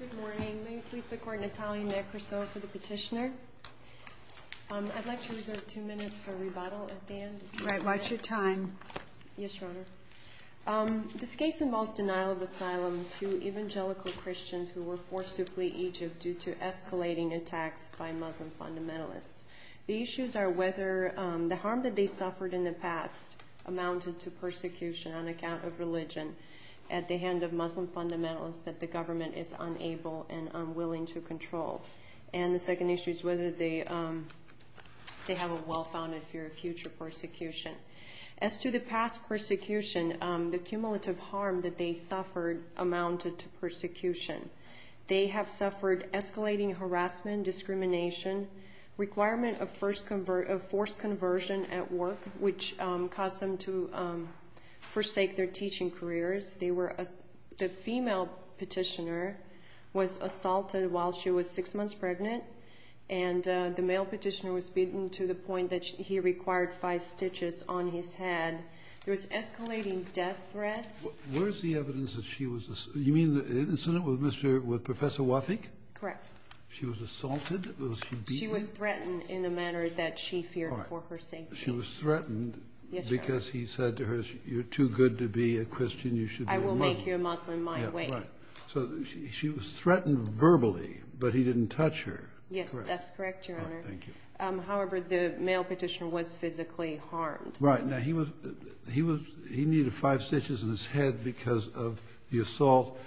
Good morning. May it please the Court, Natalia Nekrasov for the petitioner. I'd like to reserve two minutes for rebuttal at the end. Right. Watch your time. Yes, Your Honor. This case involves denial of asylum to evangelical Christians who were forced to flee Egypt due to escalating attacks by Muslim fundamentalists. The issues are whether the harm that they suffered in the past amounted to persecution on account of religion at the hand of Muslim fundamentalists that the government is unable and unwilling to control. And the second issue is whether they have a well-founded fear of future persecution. As to the past persecution, the cumulative harm that they suffered amounted to persecution. Requirement of forced conversion at work, which caused them to forsake their teaching careers. The female petitioner was assaulted while she was six months pregnant, and the male petitioner was beaten to the point that he required five stitches on his head. There was escalating death threats. Where is the evidence that she was assaulted? You mean the incident with Professor Wafik? Correct. She was assaulted? Was she beaten? She was threatened in the manner that she feared for her safety. She was threatened because he said to her, you're too good to be a Christian, you should be a Muslim. I will make you a Muslim my way. So she was threatened verbally, but he didn't touch her. Yes, that's correct, Your Honor. However, the male petitioner was physically harmed. He needed five stitches in his head because of the assault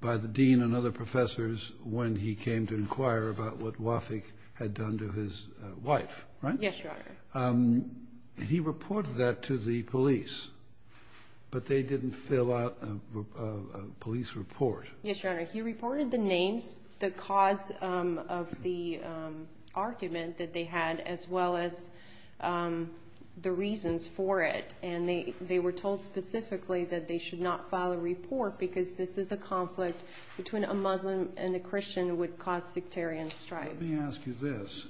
by the dean and other professors when he came to inquire about what Wafik had done to his wife, right? Yes, Your Honor. He reported that to the police, but they didn't fill out a police report. Yes, Your Honor. He reported the names, the cause of the argument that they had, as well as the reasons for it, and they were told specifically that they should not file a report because this is a conflict between a Muslim and a Christian that would cause sectarian strife. Let me ask you this.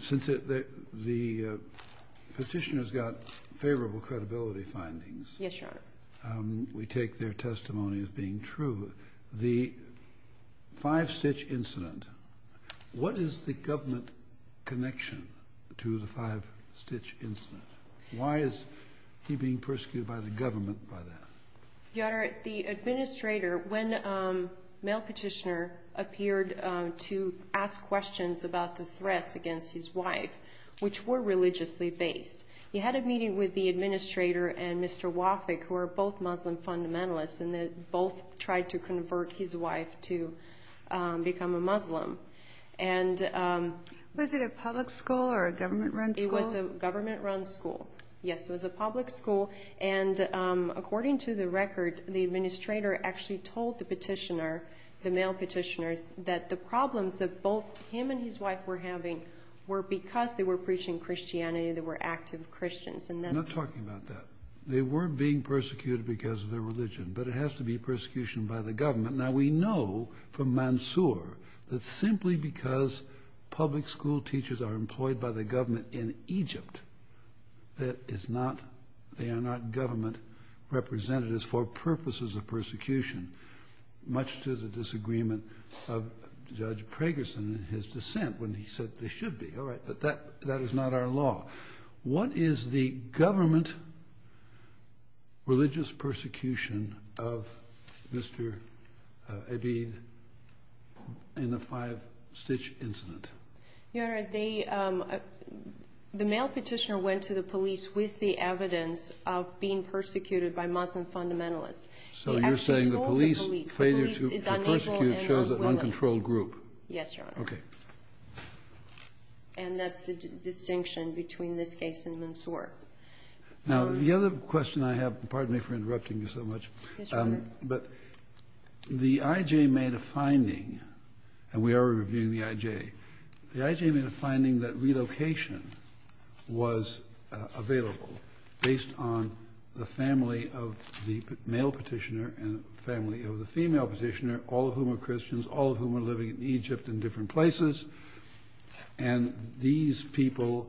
Since the petitioner's got favorable credibility findings, Yes, Your Honor. we take their testimony as being true. the five-stitch incident, what is the government connection to the five-stitch incident? Why is he being persecuted by the government by that? Your Honor, the administrator, when the male petitioner appeared to ask questions about the threats against his wife, which were religiously based, he had a meeting with the administrator and Mr. Wafik, who are both Muslim fundamentalists, and they both tried to convert his wife to become a Muslim. Was it a public school or a government-run school? It was a government-run school. Yes, it was a public school, and according to the record, the administrator actually told the petitioner, the male petitioner, that the problems that both him and his wife were having were because they were preaching Christianity and they were active Christians. I'm not talking about that. They were being persecuted because of their religion, but it has to be persecution by the government. Now, we know from Mansour that simply because public school teachers are employed by the government in Egypt, that they are not government representatives for purposes of persecution, much to the disagreement of Judge Pragerson in his dissent when he said they should be. All right, but that is not our law. What is the government religious persecution of Mr. Abid in the five-stitch incident? Your Honor, the male petitioner went to the police with the evidence of being persecuted by Muslim fundamentalists. So you're saying the police failure to persecute shows an uncontrolled group. Yes, Your Honor. Okay. And that's the distinction between this case and Mansour. Now, the other question I have, pardon me for interrupting you so much, but the IJ made a finding, and we are reviewing the IJ, the IJ made a finding that relocation was available based on the family of the male petitioner and the family of the female petitioner, all of whom are Christians, all of whom are living in Egypt in different places. And these people,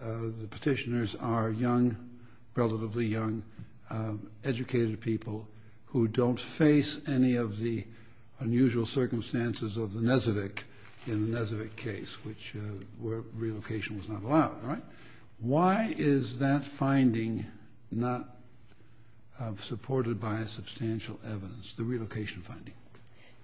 the petitioners, are young, relatively young, educated people who don't face any of the unusual circumstances of the Nezevic in the Nezevic case, which relocation was not allowed, right? Why is that finding not supported by substantial evidence, the relocation finding?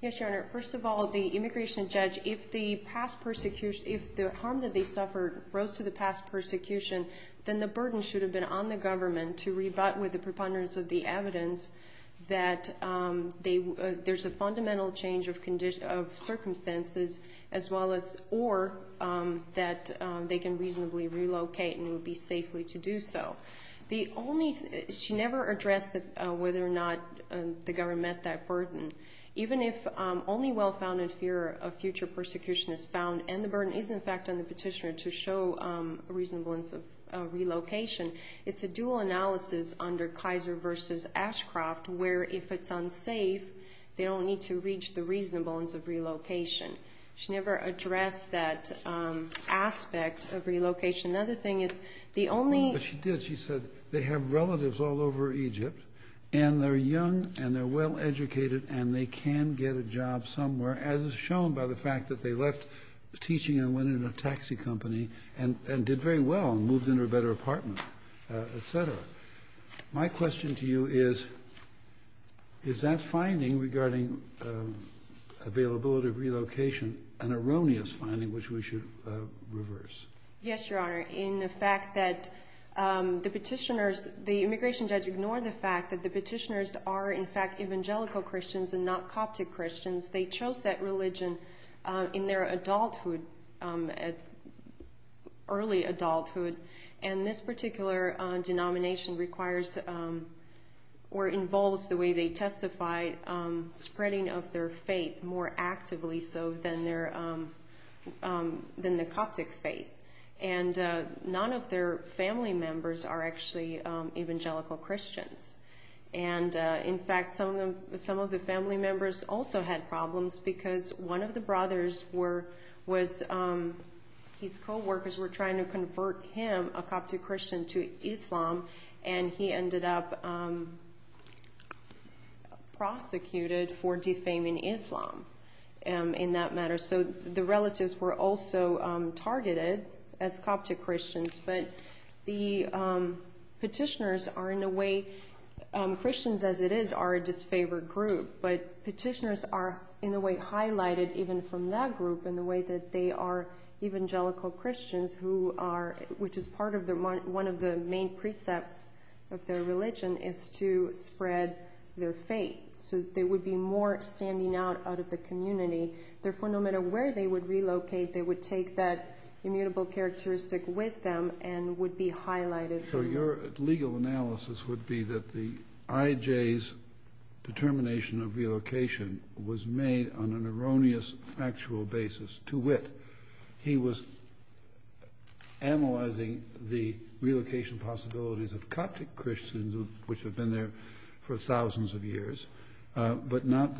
Yes, Your Honor. First of all, the immigration judge, if the harm that they suffered rose to the past persecution, then the burden should have been on the government to rebut with the preponderance of the evidence that there's a fundamental change of circumstances or that they can reasonably relocate and will be safely to do so. She never addressed whether or not the government met that burden. Even if only well-founded fear of future persecution is found and the burden is in fact on the petitioner to show a reasonableness of relocation, it's a dual analysis under Kaiser v. Ashcroft where if it's unsafe, they don't need to reach the reasonableness of relocation. She never addressed that aspect of relocation. Another thing is the only... She said they have relatives all over Egypt and they're young and they're well-educated and they can get a job somewhere, as is shown by the fact that they left teaching and went into a taxi company and did very well and moved into a better apartment, etc. My question to you is, is that finding regarding availability of relocation an erroneous finding which we should reverse? Yes, Your Honor. In the fact that the petitioners... The immigration judge ignored the fact that the petitioners are in fact evangelical Christians and not Coptic Christians. They chose that religion in their adulthood, early adulthood, and this particular denomination requires or involves the way they testified spreading of their faith more actively so than the Coptic faith. And none of their family members are actually evangelical Christians. And in fact, some of the family members also had problems because one of the brothers was... His co-workers were trying to convert him, a Coptic Christian, to Islam, and he ended up prosecuted for defaming Islam in that matter. So the relatives were also targeted as Coptic Christians, but the petitioners are in a way... Christians as it is are a disfavored group, but petitioners are in a way highlighted even from that group in the way that they are evangelical Christians who are... Which is part of the... One of the main precepts of their religion is to spread their faith so that there would be more standing out out of the community. Therefore, no matter where they would relocate, they would take that immutable characteristic with them and would be highlighted. So your legal analysis would be that the IJ's determination of relocation was made on an erroneous factual basis. To wit, he was analyzing the relocation possibilities of Coptic Christians which have been there for thousands of years, but not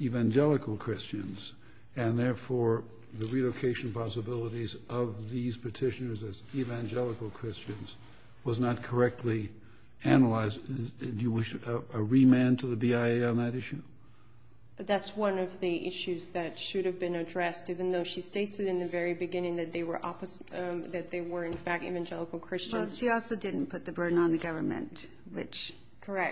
evangelical Christians. And therefore, the relocation possibilities of these petitioners as evangelical Christians was not correctly analyzed. Do you wish a remand to the BIA on that issue? That's one of the issues that should have been addressed even though she states it in the very beginning that they were in fact evangelical Christians. Well, she also didn't put the burden on the government, which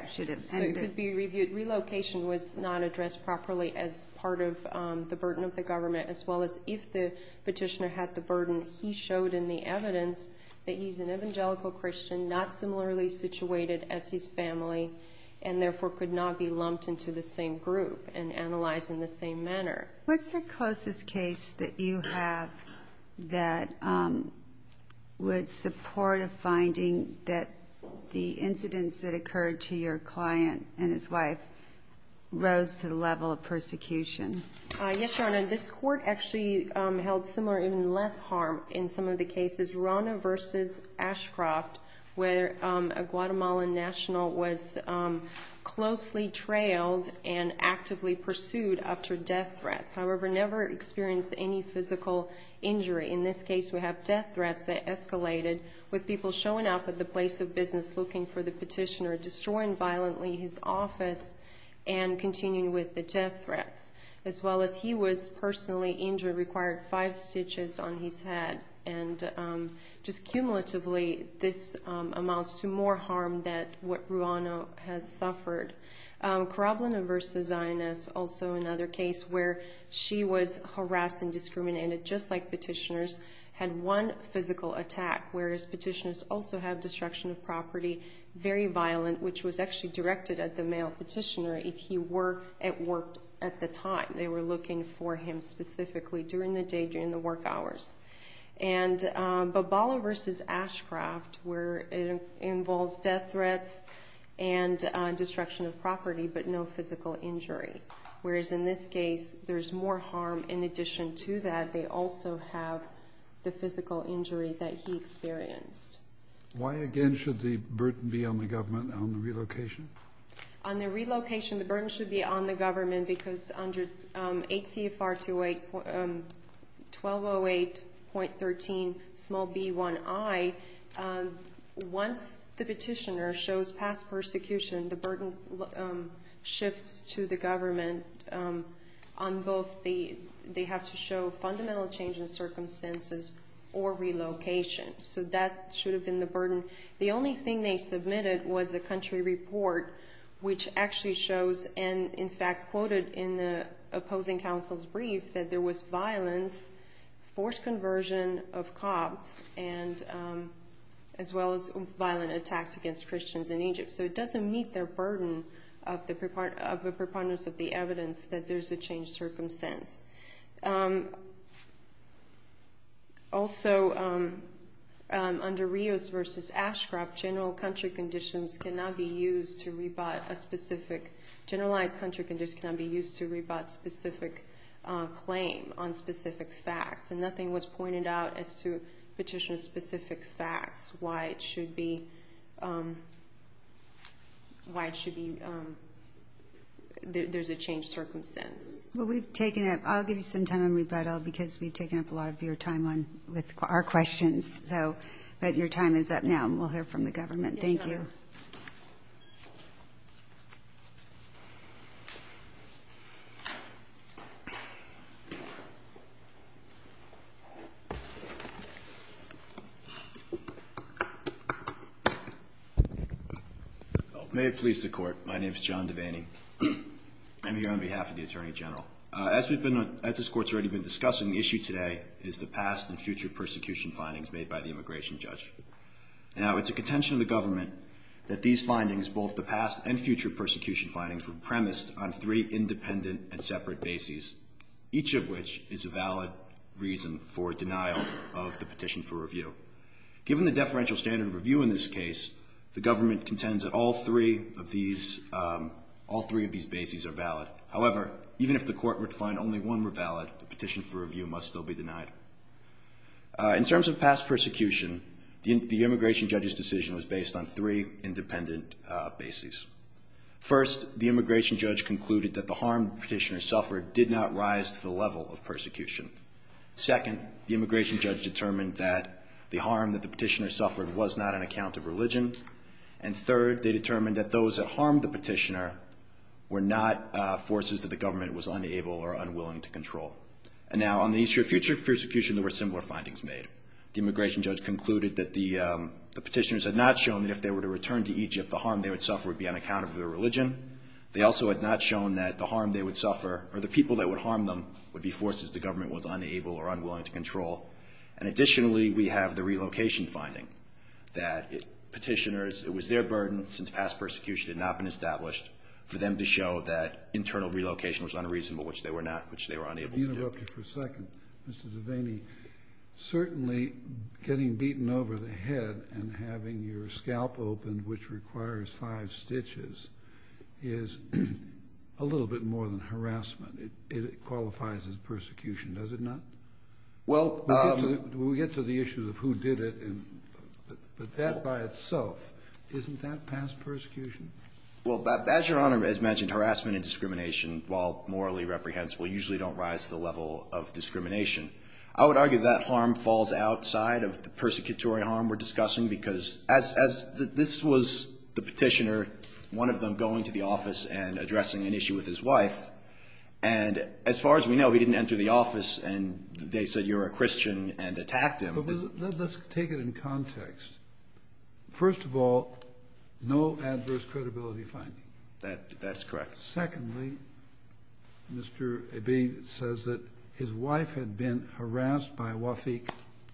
should have ended... Correct. Could be reviewed. Relocation was not addressed properly as part of the burden of the government as well as if the petitioner had the burden. He showed in the evidence that he's an evangelical Christian, not similarly situated as his family, and therefore could not be lumped into the same group and analyzed in the same manner. What's the closest case that you have that would support a finding that the incidents that occurred to your client and his wife rose to the level of persecution? Yes, Your Honor, this court actually held similar, even less harm in some of the cases. Rana v. Ashcroft, where a Guatemalan national was closely trailed and actively pursued after death threats, however, never experienced any physical injury. In this case, we have death threats that escalated with people showing up at the place of business looking for the petitioner, destroying violently his office, and continuing with the death threats. As well as he was personally injured, required five stitches on his head. And just cumulatively, this amounts to more harm than what Ruano has suffered. Karablina v. Zionist, also another case where she was harassed and discriminated, just like petitioners, had one physical attack, whereas petitioners also have destruction of property, very violent, which was actually directed at the male petitioner if he were at work at the time. They were looking for him specifically during the day, during the work hours. And Bobala v. Ashcroft, where it involves death threats and destruction of property, but no physical injury. Whereas in this case, there's more harm in addition to that. They also have the physical injury that he experienced. Why, again, should the burden be on the government on the relocation? On the relocation, the burden should be on the government because under H.C.F.R. 1208.13b1i, once the petitioner shows past persecution, the burden shifts to the government. They have to show fundamental change in circumstances or relocation. So that should have been the burden. The only thing they submitted was a country report, which actually shows, and in fact quoted in the opposing counsel's brief, that there was violence, forced conversion of cops, as well as violent attacks against Christians in Egypt. So it doesn't meet their burden of the preponderance of the evidence that there's a changed circumstance. Also, under Rios v. Ashcroft, generalized country conditions cannot be used to rebut a specific claim on specific facts, and nothing was pointed out as to petitioner-specific facts, why it should be there's a changed circumstance. Well, we've taken up... I'll give you some time on rebuttal because we've taken up a lot of your time with our questions. But your time is up now, and we'll hear from the government. Thank you. May it please the Court. My name is John Devaney. I'm here on behalf of the Attorney General. As this Court's already been discussing, the issue today is the past and future persecution findings made by the immigration judge. Now, it's a contention of the government that these findings, both the past and future persecution findings, were premised on three independent and separate bases, each of which is a valid reason for denial of the petition for review. Given the deferential standard of review in this case, the government contends that all three of these bases are valid. However, even if the Court were to find only one were valid, the petition for review must still be denied. In terms of past persecution, the immigration judge's decision was based on three independent bases. First, the immigration judge concluded that the harm the petitioner suffered did not rise to the level of persecution. Second, the immigration judge determined that the harm that the petitioner suffered was not on account of religion. And third, they determined that those that harmed the petitioner were not forces that the government was unable or unwilling to control. And now, on the issue of future persecution, there were similar findings made. The immigration judge concluded that the petitioners had not shown that if they were to return to Egypt, the harm they would suffer would be on account of their religion. They also had not shown that the harm they would suffer, or the people that would harm them, would be forces the government was unable or unwilling to control. And additionally, we have the relocation finding that petitioners, it was their burden, since past persecution had not been established, for them to show that internal relocation was unreasonable, which they were not, which they were unable to do. Let me interrupt you for a second, Mr. Devaney. Certainly, getting beaten over the head and having your scalp opened, which requires five stitches, is a little bit more than harassment. It qualifies as persecution, does it not? We'll get to the issue of who did it, but that by itself, isn't that past persecution? Well, as Your Honor has mentioned, harassment and discrimination, while morally reprehensible, usually don't rise to the level of discrimination. I would argue that harm falls outside of the persecutory harm we're discussing, because as this was the petitioner, one of them going to the office and addressing an issue with his wife, and as far as we know, he didn't enter the office and they said, you're a Christian, and attacked him. Let's take it in context. First of all, no adverse credibility finding. That's correct. Secondly, Mr. Ebbing says that his wife had been harassed by Wafik,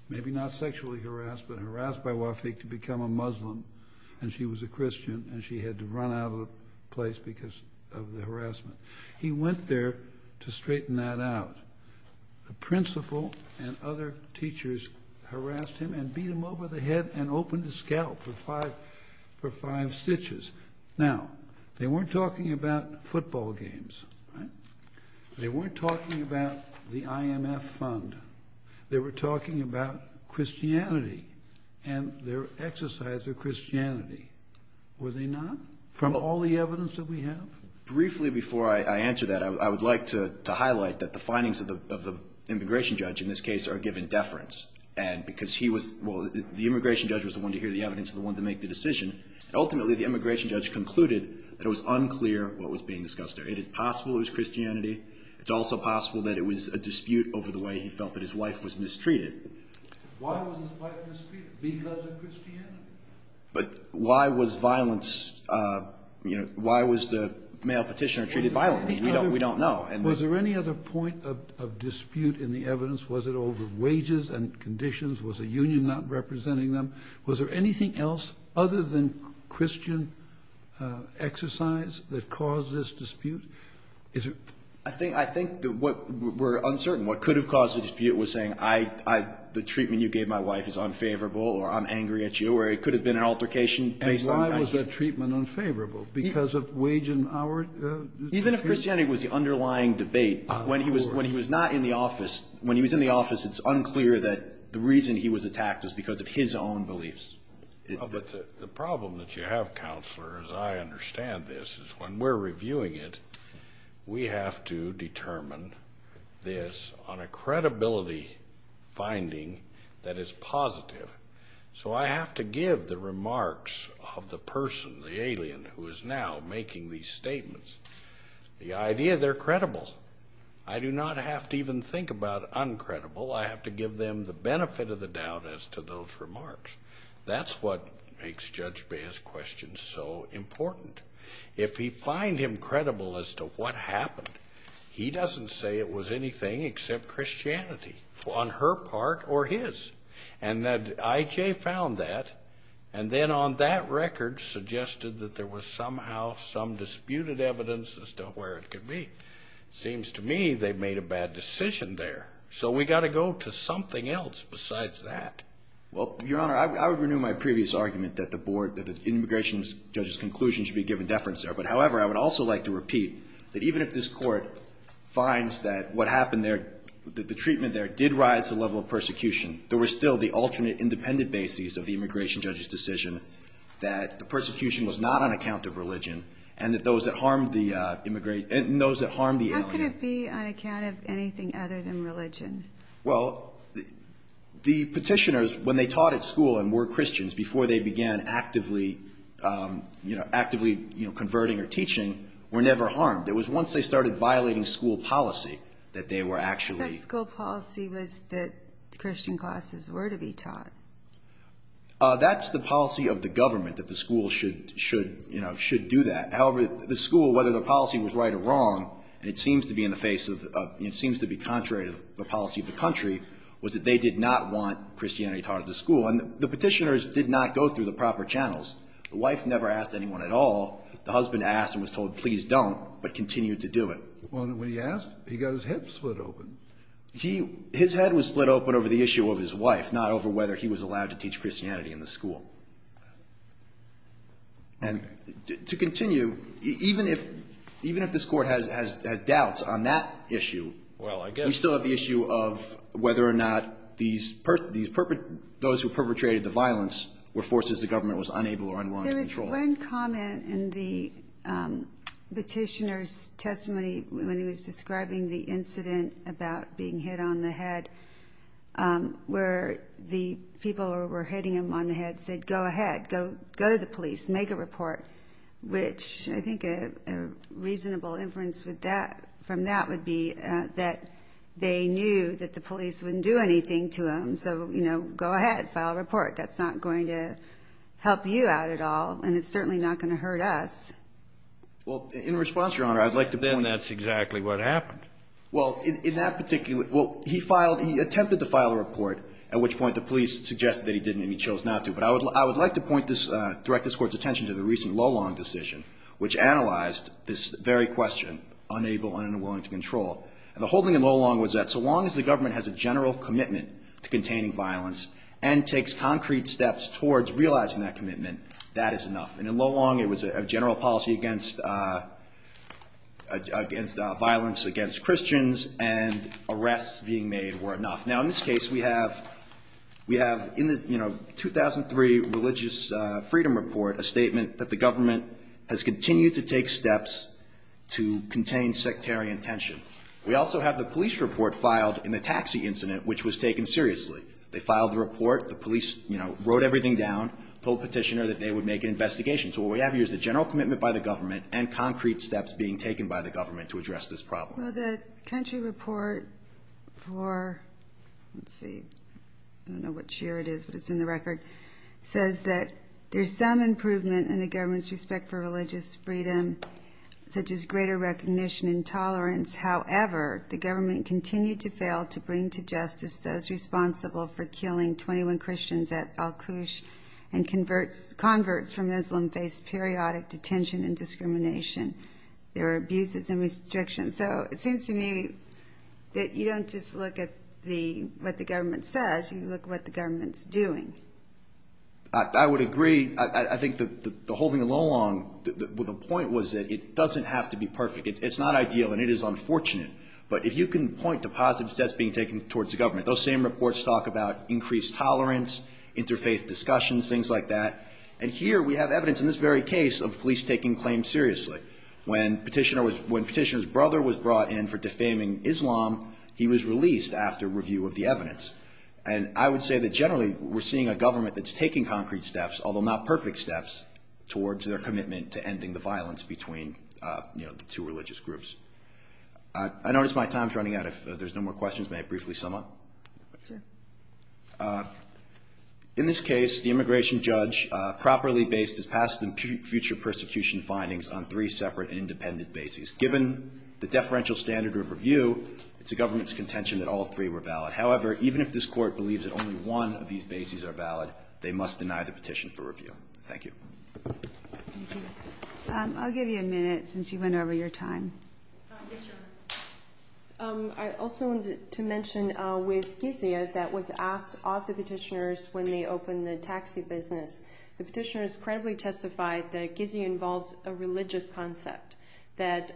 maybe not sexually harassed, but harassed by Wafik to become a Muslim, and she was a Christian, and she had to run out of the place because of the harassment. He went there to straighten that out. The principal and other teachers harassed him and beat him over the head and opened his scalp for five stitches. Now, they weren't talking about football games. They weren't talking about the IMF fund. They were talking about Christianity and their exercise of Christianity. Were they not? From all the evidence that we have? Briefly, before I answer that, I would like to highlight that the findings of the immigration judge in this case are given deference, because the immigration judge was the one to hear the evidence and the one to make the decision. Ultimately, the immigration judge concluded that it was unclear what was being discussed there. It is possible it was Christianity. It's also possible that it was a dispute over the way he felt that his wife was mistreated. Why was his wife mistreated? Because of Christianity? But why was violence... Why was the male petitioner treated violently? We don't know. Was there any other point of dispute in the evidence? Was it over wages and conditions? Was the union not representing them? Was there anything else other than Christian exercise that caused this dispute? I think that we're uncertain. What could have caused the dispute was saying, the treatment you gave my wife is unfavorable or I'm angry at you, or it could have been an altercation based on... And why was that treatment unfavorable? Because of wage and hour... Even if Christianity was the underlying debate, when he was not in the office, when he was in the office, it's unclear that the reason he was attacked was because of his own beliefs. The problem that you have, Counselor, as I understand this, is when we're reviewing it, we have to determine this on a credibility finding that is positive. So I have to give the remarks of the person, the alien, who is now making these statements, the idea they're credible. I do not have to even think about uncredible. I have to give them the benefit of the doubt as to those remarks. That's what makes Judge Baez's question so important. If we find him credible as to what happened, he doesn't say it was anything except Christianity. On her part or his. And that I.J. found that, and then on that record suggested that there was somehow some disputed evidence as to where it could be. Seems to me they made a bad decision there. So we got to go to something else besides that. Well, Your Honor, I would renew my previous argument that the board, that the immigration judge's conclusion should be given deference there. But however, I would also like to repeat that even if this Court finds that what happened there, that the treatment there did rise to the level of persecution, there were still the alternate independent bases of the immigration judge's decision that the persecution was not on account of religion and that those that harmed the immigrant, and those that harmed the alien. How could it be on account of anything other than religion? Well, the Petitioners, when they taught at school and were Christians before they began actively, you know, actively converting or teaching, were never harmed. It was once they started violating school policy that they were actually... That school policy was that Christian classes were to be taught. That's the policy of the government, that the school should, you know, should do that. However, the school, whether the policy was right or wrong, and it seems to be in the face of, it seems to be contrary to the policy of the country, was that they did not want Christianity taught at the school. And the Petitioners did not go through the proper channels. The wife never asked anyone at all. The husband asked and was told, please don't, but continued to do it. When he asked, he got his head split open. He, his head was split open over the issue of his wife, not over whether he was allowed to teach Christianity in the school. And to continue, even if, even if this Court has doubts on that issue... Well, I guess... ...we still have the issue of whether or not these, those who perpetrated the violence were forces the government was unable or unwilling to control. One comment in the Petitioners' testimony when he was describing the incident about being hit on the head, where the people who were hitting him on the head said, go ahead, go to the police, make a report, which I think a reasonable inference from that would be that they knew that the police wouldn't do anything to him. So, you know, go ahead, file a report. That's not going to help you out at all. And it's certainly not going to hurt us. Well, in response, Your Honor, I'd like to point... Then that's exactly what happened. Well, in that particular... Well, he filed, he attempted to file a report, at which point the police suggested that he didn't, and he chose not to. But I would like to point this, direct this Court's attention to the recent Lolong decision, which analyzed this very question, unable, unwilling to control. And the whole thing in Lolong was that so long as the government has a general commitment to containing violence and takes concrete steps towards realizing that commitment, that is enough. And in Lolong, it was a general policy against... against violence against Christians, and arrests being made were enough. Now, in this case, we have... we have in the, you know, 2003 Religious Freedom Report a statement that the government has continued to take steps to contain sectarian tension. We also have the police report filed in the taxi incident, which was taken seriously. They filed the report. The police, you know, wrote everything down, told Petitioner that they would make an investigation. So what we have here is the general commitment by the government and concrete steps being taken by the government to address this problem. Well, the country report for... let's see, I don't know which year it is, but it's in the record, says that there's some improvement in the government's respect for religious freedom, such as greater recognition and tolerance. However, the government continued to fail to bring to justice those responsible for killing 21 Christians at Al-Qush, and converts from Islam faced periodic detention and discrimination. There were abuses and restrictions. So it seems to me that you don't just look at the... what the government says, you look at what the government's doing. I would agree. I think the whole thing along with the point was that it doesn't have to be perfect. It's not ideal, and it is unfortunate. But if you can point to positive steps being taken towards the government, those same reports talk about increased tolerance, interfaith discussions, things like that. And here we have evidence in this very case of police taking claims seriously. When Petitioner's brother was brought in for defaming Islam, he was released after review of the evidence. And I would say that generally we're seeing a government that's taking concrete steps, although not perfect steps, towards their commitment to ending the violence between the two religious groups. I notice my time's running out. If there's no more questions, may I briefly sum up? Sure. In this case, the immigration judge properly based his past and future persecution findings on three separate and independent bases. Given the deferential standard of review, it's the government's contention that all three were valid. However, even if this Court believes that only one of these bases are valid, they must deny the petition for review. Thank you. I'll give you a minute since you went over your time. Yes, Your Honor. I also wanted to mention with Gizia that was asked of the petitioners when they opened the taxi business. The petitioners credibly testified that Gizia involves a religious concept, that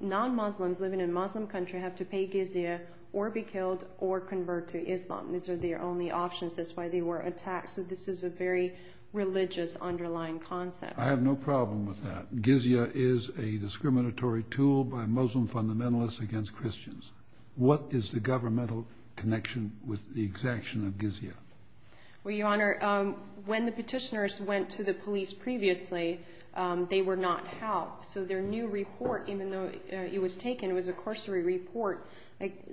non-Muslims living in a Muslim country have to pay Gizia or be killed or convert to Islam. These are their only options. That's why they were attacked. So this is a very religious underlying concept. I have no problem with that. Gizia is a discriminatory tool by Muslim fundamentalists against Christians. What is the governmental connection with the exaction of Gizia? Well, Your Honor, when the petitioners went to the police previously, they were not helped. So their new report, even though it was taken, it was a corsary report,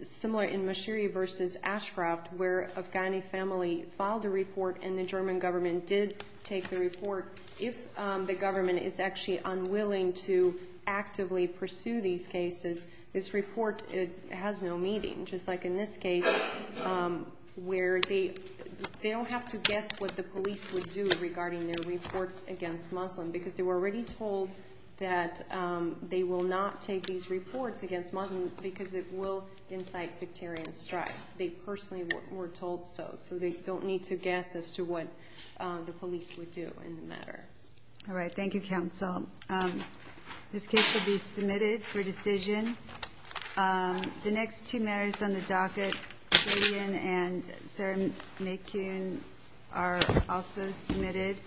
similar in Mashiri v. Ashcroft, where Afghani family filed a report and the German government did take the report. If the government is actually unwilling to actively pursue these cases, this report has no meaning, just like in this case, where they don't have to guess what the police would do regarding their reports against Muslims because they were already told that they will not take these reports against Muslims because it will incite sectarian strife. They personally were told so, so they don't need to guess as to what the police would do in the matter. All right. Thank you, counsel. This case will be submitted for decision. The next two matters on the docket, Radian and Sarah McCune, are also submitted.